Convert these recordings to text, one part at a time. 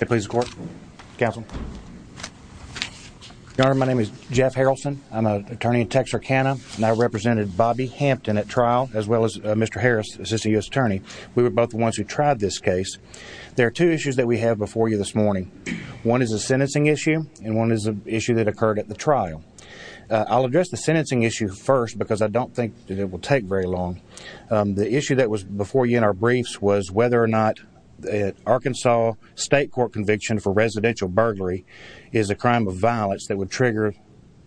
Yeah, please support Council. Norm. My name is Jeff Haralson. I'm an attorney in Texarkana now represented Bobby Hampton at trial as well as Mr Harris, Assistant U. S. Attorney. We were both once you tried this case. There are two issues that we have before you this morning. One is a sentencing issue and one is an issue that occurred at the trial. I'll address the sentencing issue first because I don't think that it will take very long. Um the issue that was before you in our briefs was whether or not Arkansas state court conviction for residential burglary is a crime of violence that would trigger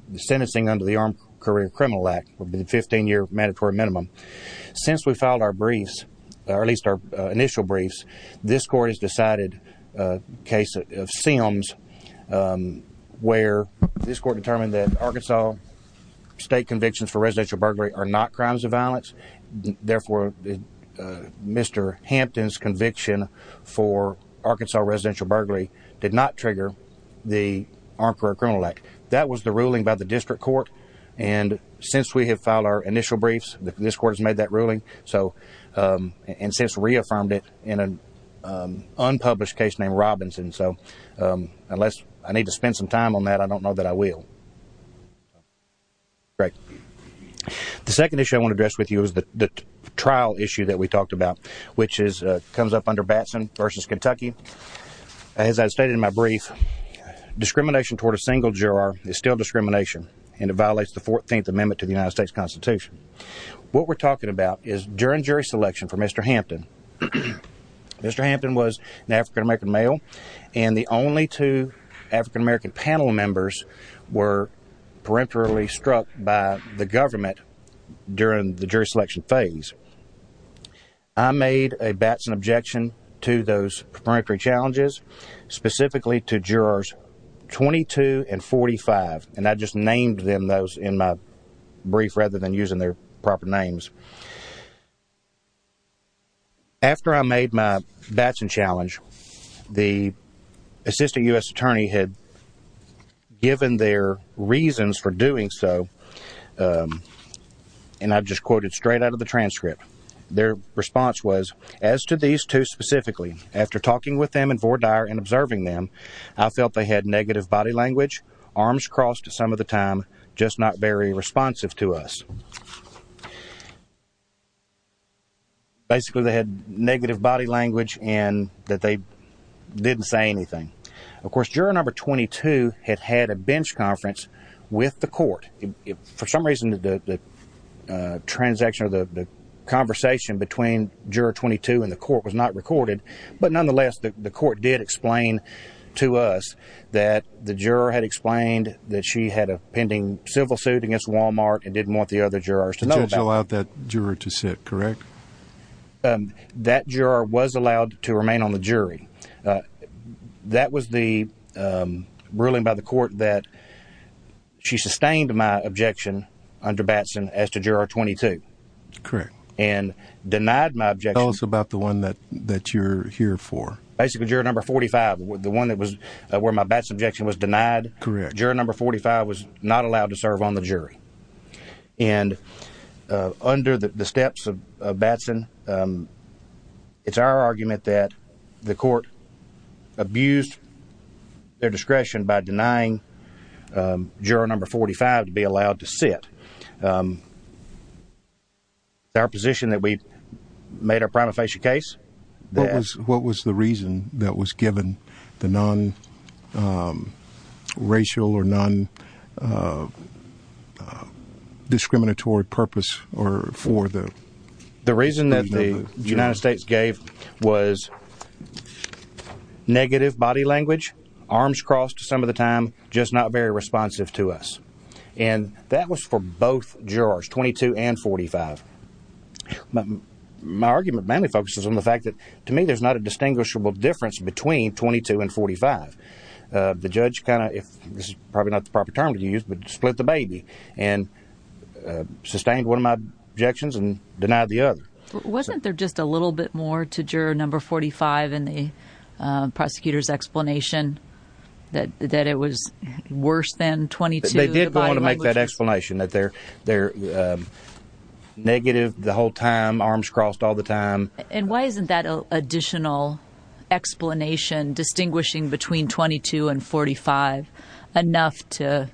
the sentencing under the Armed Career Criminal Act would be the 15 year mandatory minimum. Since we filed our briefs or at least our initial briefs, this court has decided a case of Sims um where this court determined that Arkansas state convictions for residential burglary are not crimes of Mr Hampton's conviction for Arkansas residential burglary did not trigger the Armed Career Criminal Act. That was the ruling by the district court. And since we have filed our initial briefs, this court has made that ruling. So um and since reaffirmed it in an unpublished case named Robinson. So unless I need to spend some time on that, I don't know that I will. Great. The second issue I want to address with you is the trial issue that we talked about, which is comes up under Batson versus Kentucky. As I stated in my brief, discrimination toward a single juror is still discrimination and it violates the 14th amendment to the United States Constitution. What we're talking about is during jury selection for Mr Hampton, Mr Hampton was an african american male and the only two african american panel members were peripherally struck by the government during the jury selection phase. I made a batson objection to those periphery challenges specifically to jurors 22 and 45. And I just named them those in my brief rather than using their proper names. After I made my batson challenge, the assistant U. S. Attorney had given their reasons for doing so. Um, and I've just quoted straight out of the transcript. Their response was as to these two specifically after talking with them and for dire and observing them, I felt they had negative body language, arms crossed some of the time, just not very responsive to us. Basically, they had negative body language and that they didn't say anything. Of course, juror number 22 had had a bench conference with the court. For some reason, the transaction of the conversation between juror 22 and the court was not recorded. But nonetheless, the court did explain to us that the juror had explained that she had a pending civil suit against walmart and didn't want the other jurors to know about that juror to sit. Correct. Um, that juror was allowed to remain on the jury. Uh, that was the, um, ruling by the court that she sustained my objection under batson as to juror 22. Correct. And denied my objection about the one that that you're here for. Basically, you're number 45. The one that was where my best objection was denied. Correct. Juror number 45 was not allowed to batson. Um, it's our argument that the court abused their discretion by denying, um, juror number 45 to be allowed to sit. Um, our position that we made our prima facie case. What was, what was the reason that was given the non, um, racial or non, uh, uh, discriminatory purpose or for the reason that the United States gave was negative body language, arms crossed some of the time, just not very responsive to us. And that was for both jurors 22 and 45. My argument mainly focuses on the fact that to me there's not a distinguishable difference between 22 and 45. Uh, the judge kind of, if this is probably not the proper term to use, but split the baby and, uh, sustained one of my objections and denied the other. Wasn't there just a little bit more to juror number 45 in the prosecutor's explanation that that it was worse than 22. They did want to make that explanation that they're, they're negative the whole time, arms crossed all the time. And why isn't that additional explanation distinguishing between 22 and 45 enough to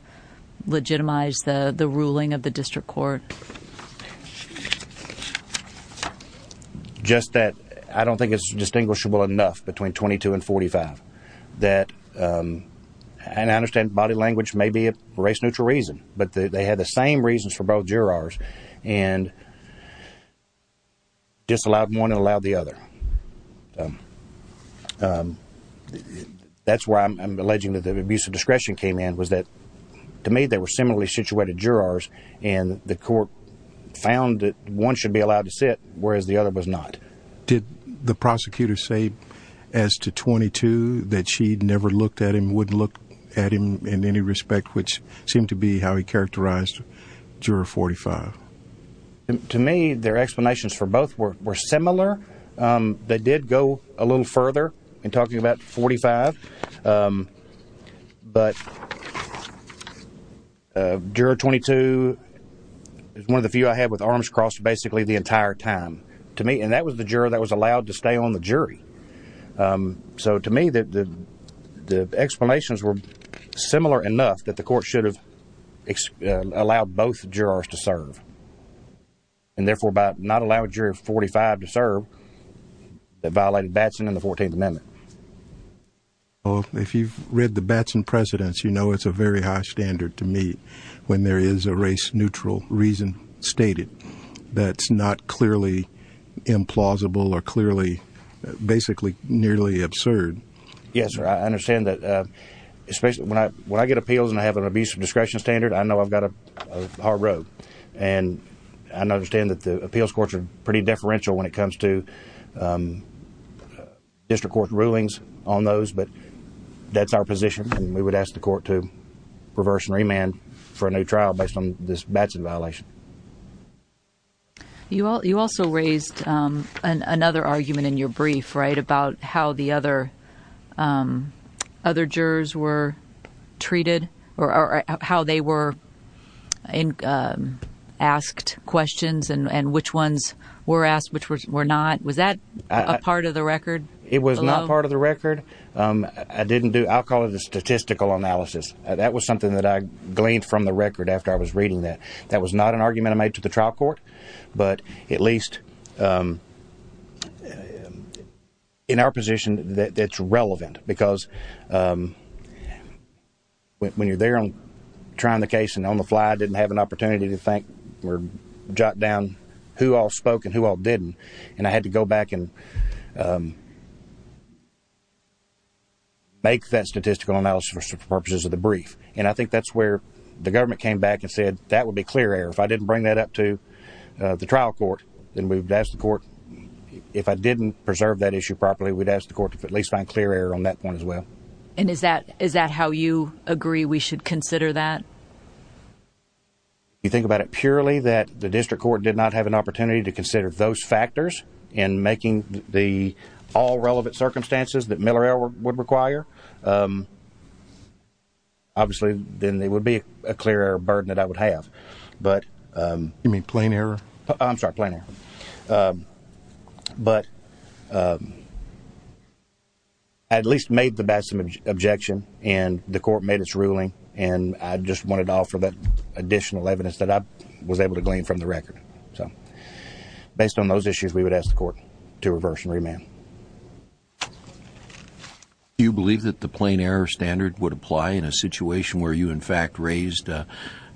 legitimize the ruling of the district court? Just that I don't think it's distinguishable enough between 22 and 45 that, um, and I understand body language may be a race neutral reason, but they had the same reasons for both jurors and just allowed one and allowed the other. Um, um, that's where I'm alleging that the abuse of discretion came in was that to me they were similarly situated jurors and the court found that one should be allowed to sit, whereas the other was not. Did the prosecutor say as to 22 that she'd never looked at him, wouldn't look at him in any respect, which seemed to be how he characterized juror 45. To me, their explanations for both were similar. Um, they did go a little further in talking about 45. Um, but uh, juror 22 is one of the few I had with arms crossed basically the entire time to me. And that was the juror that was allowed to stay on the jury. Um, so to me that the explanations were similar enough that the court should have allowed both jurors to serve and therefore about not allowed juror 45 to serve that violated Batson in the 14th amendment. Well, if you've read the Batson precedents, you know it's a very high standard to me when there is a race neutral reason stated that's not clearly implausible or clearly basically nearly absurd. Yes, sir. I understand that especially when I, when I get appeals and I have an abuse of discretion standard, I know I've got a hard road and I understand that the appeals courts are pretty deferential when it comes to, um, district court rulings on those. But that's our position. And we would ask the court to reverse and remand for a new trial based on this Batson violation. You all, you also raised another argument in your brief right about how the other, um, other jurors were treated or how they were, um, asked questions and, and which ones were asked, which were not. Was that a part of the record? It was not part of the record. Um, I didn't do, I'll call it a statistical analysis. That was something that I gleaned from the record after I was reading that. That was not an argument I made to the trial court, but at least, um, uh, in our position that it's relevant because, um, when you're there on trying the case and on the fly, I didn't have an opportunity to think we're jot down who all spoke and who all didn't. And I had to go back and, um, make that statistical analysis for purposes of the brief. And I think that's where the government came back and said that would be clear error if I asked the court, if I didn't preserve that issue properly, we'd ask the court to at least find clear error on that point as well. And is that, is that how you agree we should consider that? You think about it purely that the district court did not have an opportunity to consider those factors in making the all relevant circumstances that Miller would require. Um, obviously then there would be a clear burden that I would have. But, um, you um, but, um, at least made the best objection and the court made its ruling. And I just wanted to offer that additional evidence that I was able to glean from the record. So based on those issues, we would ask the court to reverse and remand. Do you believe that the plain error standard would apply in a situation where you in fact raised the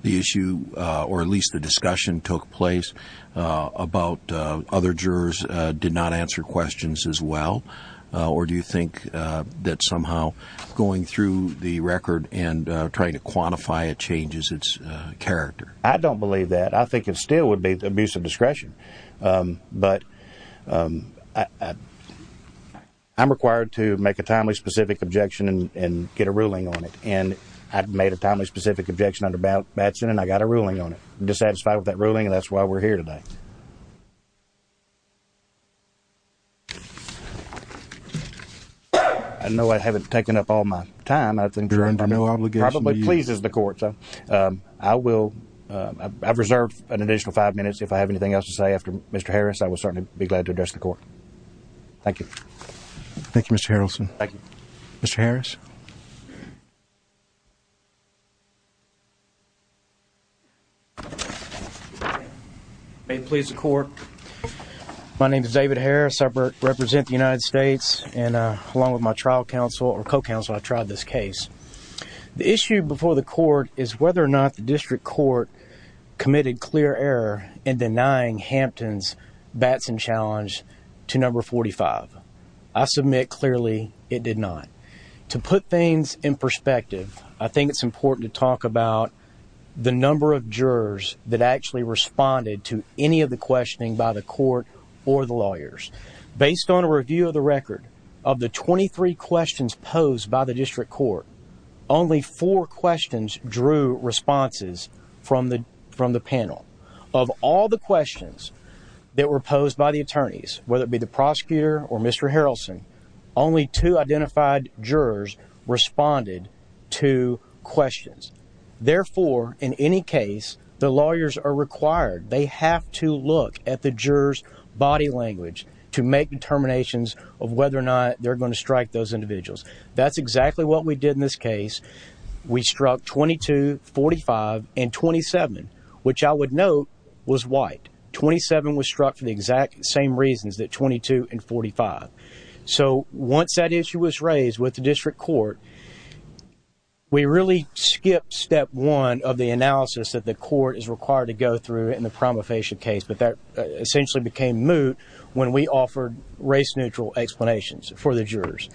issue or at least the discussion took place about other jurors did not answer questions as well? Or do you think that somehow going through the record and trying to quantify it changes its character? I don't believe that. I think it still would be abusive discretion. Um, but, um, I'm required to make a timely specific objection and get a ruling on it. And I've made a timely specific objection under Batson and I got a ruling on it satisfied with that ruling. And that's why we're here today. I know I haven't taken up all my time. I think there are no obligation. Probably pleases the court. So, um, I will. I've reserved an additional five minutes. If I have anything else to say after Mr Harris, I will certainly be glad to address the court. Thank you. Thank you, Mr Harrelson. Thank you, Mr Harris. May it please the court. My name is David Harris. I represent the United States and along with my trial counsel or co council, I tried this case. The issue before the court is whether or not the district court committed clear error in denying Hampton's Batson challenge to number 45. I submit clearly it did not to put things in perspective. I think it's important to that actually responded to any of the questioning by the court or the lawyers based on a review of the record of the 23 questions posed by the district court. Only four questions drew responses from the from the panel of all the questions that were posed by the attorneys, whether it be the prosecutor or Mr Harrelson. Only two identified jurors responded to questions. Therefore, in any case, the lawyers are required. They have to look at the jurors body language to make determinations of whether or not they're going to strike those individuals. That's exactly what we did in this case. We struck 22 45 and 27, which I would note was white. 27 was struck for the exact same reasons that 22 and 45. So once that issue was court, we really skip step one of the analysis that the court is required to go through in the prima facie case. But that essentially became moot when we offered race neutral explanations for the jurors.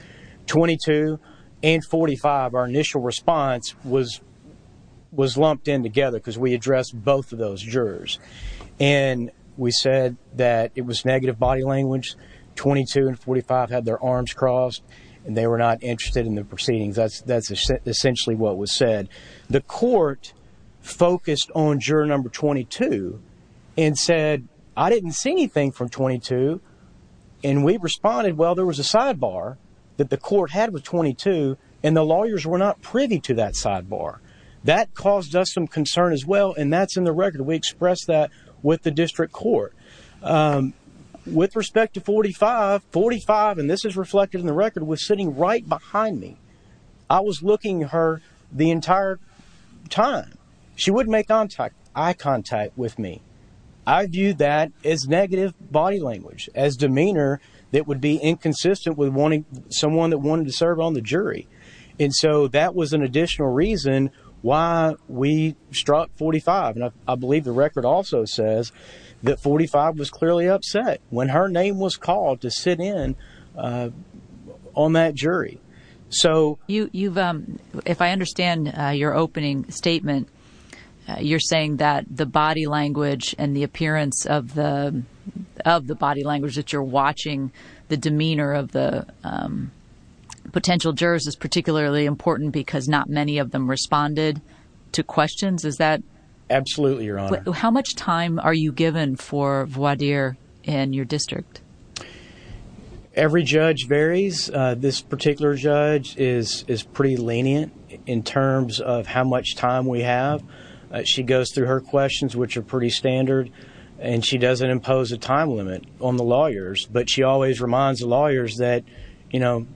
22 and 45. Our initial response was was lumped in together because we addressed both of those jurors and we said that it was negative body language. 22 and 45 had their proceedings. That's that's essentially what was said. The court focused on juror number 22 and said, I didn't see anything from 22 and we responded. Well, there was a sidebar that the court had with 22 and the lawyers were not privy to that sidebar that caused us some concern as well. And that's in the record. We expressed that with the district court, um, with respect to 45 45. And this is reflected in the record was sitting right behind me. I was looking her the entire time she wouldn't make contact eye contact with me. I view that as negative body language as demeanor that would be inconsistent with wanting someone that wanted to serve on the jury. And so that was an additional reason why we struck 45. And I believe the record also says that 45 was clearly upset when her name was called to sit in on that jury. So you've if I understand your opening statement, you're saying that the body language and the appearance of the of the body language that you're watching the demeanor of the, um, potential jurors is particularly important because not many of them responded to questions. Is that absolutely your honor? How much time are you given for voir dire and your district? Every judge varies. This particular judge is pretty lenient in terms of how much time we have. She goes through her questions, which are pretty standard, and she doesn't impose a time limit on the lawyers. But she always reminds the lawyers that, you know,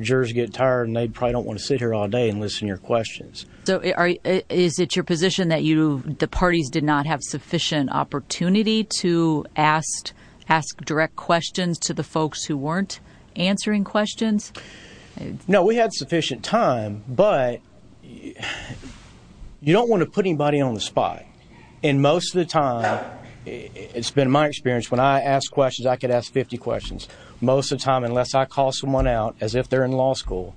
jurors get tired and they probably don't want to sit here all day and listen your questions. So is it your position that you, the parties did not have sufficient opportunity to asked ask direct questions to the folks who weren't answering questions? No, we had sufficient time, but you don't want to put anybody on the spot. And most of the time it's been my experience. When I ask questions, I could ask 50 questions most of time, unless I call someone out as if they're in law school,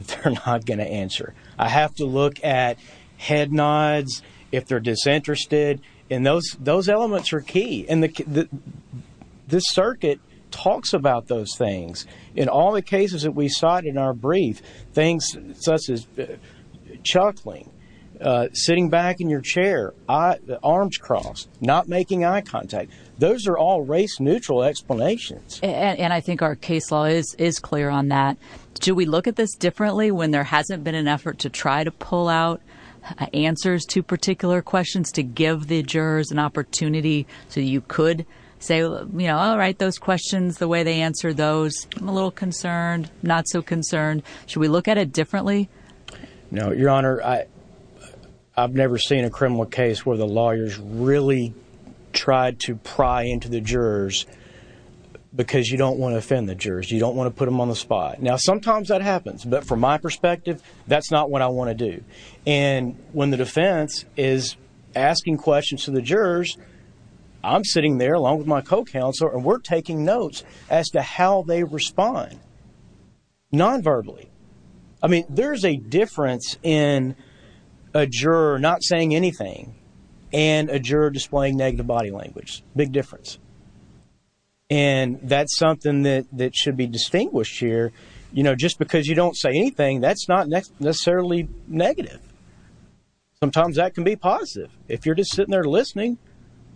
they're not going to if they're disinterested in those, those elements are key. And the this circuit talks about those things. In all the cases that we sought in our brief things such as chuckling, sitting back in your chair, arms crossed, not making eye contact. Those are all race neutral explanations. And I think our case law is is clear on that. Do we look at this differently when there hasn't been an effort to try to pull out answers to particular questions to give the jurors an opportunity? So you could say, you know, all right, those questions, the way they answer those, I'm a little concerned, not so concerned. Should we look at it differently? No, Your Honor, I I've never seen a criminal case where the lawyers really tried to pry into the jurors because you don't want to offend the jurors. You don't want to put them on the spot. Now, sometimes that happens, but from my perspective, that's not what I want to do. And when the defense is asking questions to the jurors, I'm sitting there along with my co counselor and we're taking notes as to how they respond non verbally. I mean, there's a difference in a juror not saying anything and a juror displaying negative body language. Big difference. And that's something that that should be distinguished here. You know, just because you don't say anything, that's not necessarily negative. Sometimes that could be positive if you're just sitting there listening,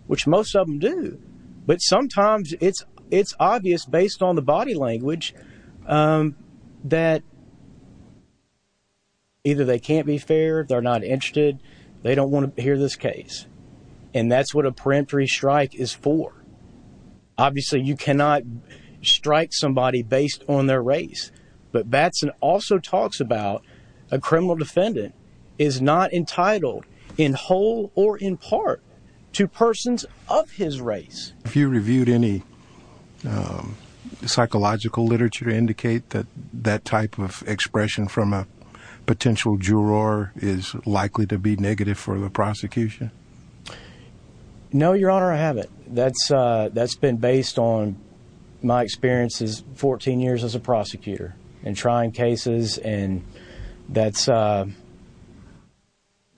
which most of them do. But sometimes it's it's obvious based on the body language, um, that either they can't be fair, they're not interested, they don't want to hear this and that's what a peremptory strike is for. Obviously, you cannot strike somebody based on their race. But Batson also talks about a criminal defendant is not entitled in whole or in part to persons of his race. If you reviewed any, um, psychological literature indicate that that type of expression from a prosecution. No, Your Honor, I haven't. That's that's been based on my experiences 14 years as a prosecutor and trying cases. And that's, uh,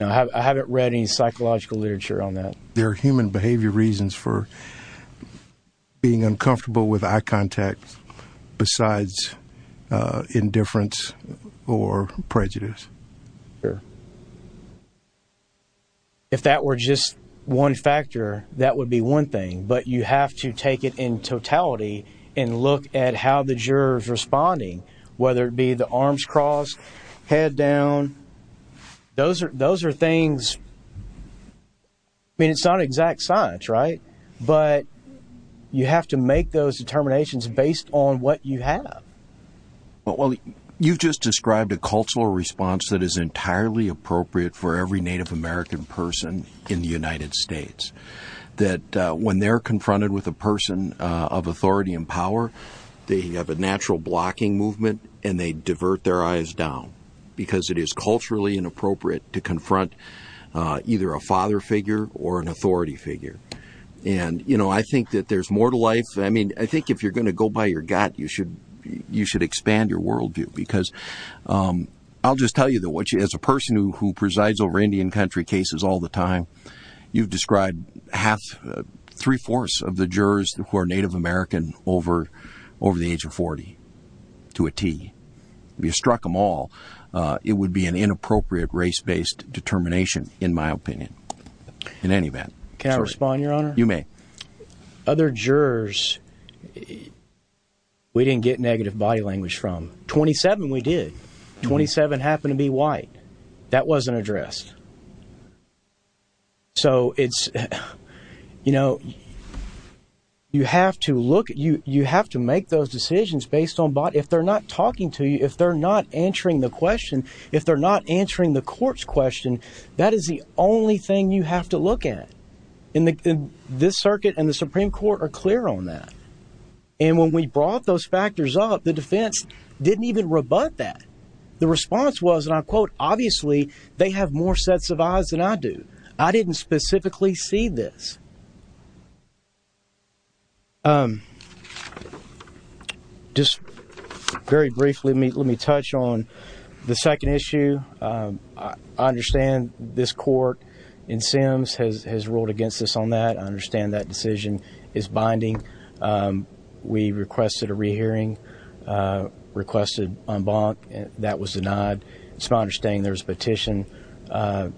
I haven't read any psychological literature on that. There are human behavior reasons for being uncomfortable with eye contact besides indifference or prejudice. Sure. If that were just one factor, that would be one thing. But you have to take it in totality and look at how the jurors responding, whether it be the arms crossed, head down. Those are those are things. I mean, it's not exact science, right? But you have to make those determinations based on what you have. Well, you've just described a cultural response that is entirely appropriate for every Native American person in the United States that when they're confronted with a person of authority and power, they have a natural blocking movement and they divert their eyes down because it is culturally inappropriate to confront either a father figure or an authority figure. And, you know, I think that there's more to life. I mean, I think if you're going to go by your gut, you should, you should expand your worldview because, um, I'll just tell you that what you as a person who presides over Indian country cases all the time, you've described half, three fourths of the jurors who are Native American over, over the age of 40 to a T. You struck them all. Uh, it would be an inappropriate race based determination in my opinion. In any event, can I respond? Your honor? You may. Other get negative body language from 27. We did 27 happened to be white. That wasn't addressed. So it's, you know, you have to look at you. You have to make those decisions based on bot. If they're not talking to you, if they're not answering the question, if they're not answering the court's question, that is the only thing you have to look at in this circuit and the Supreme court are clear on that. And when we brought those factors up, the defense didn't even rebut that. The response was, and I quote, obviously they have more sets of eyes than I do. I didn't specifically see this. Um, just very briefly, let me touch on the second issue. I understand this court in Sims has ruled against this on that. I understand that decision is binding. Um, we requested a rehearing, uh, requested on bonk that was denied. It's my understanding there's a petition, uh,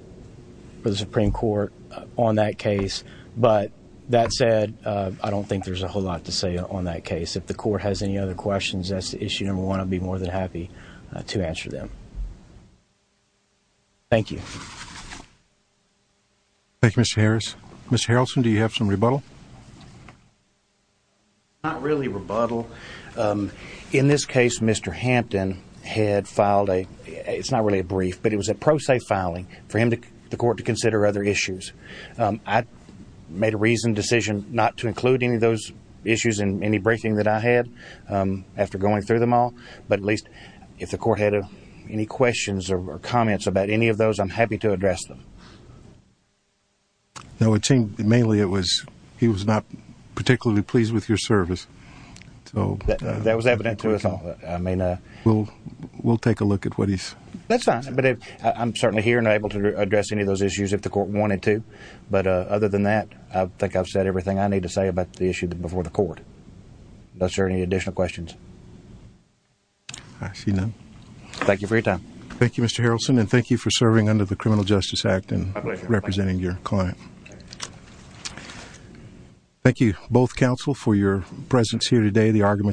for the Supreme Court on that case. But that said, I don't think there's a whole lot to say on that case. If the court has any other questions, that's the issue number one. I'd be more than happy to answer them. Thank you. Thank you, Mr Harris. Mr Harrelson, do you have some rebuttal? Not really rebuttal. Um, in this case, Mr Hampton had filed a, it's not really a brief, but it was a pro se filing for him to the court to consider other issues. Um, I made a reasoned decision not to include any of those issues in any breaking that I had after going through them all. But at least if the court had any questions or comments about any of those, I'm happy to address them. No, it seemed mainly it was, he was not particularly pleased with your service. So that was evident to us. I mean, we'll, we'll take a look at what he's that's fine. But I'm certainly here and able to address any of those issues if the court wanted to. But other than that, I think I've said everything I need to say about the issue before the court. No, sir. Any additional questions? I see none. Thank you for your time. Thank you, Mr Harrelson. And thank you for serving under the Criminal Justice Act and representing your client. Thank you both counsel for your presence here today. The argument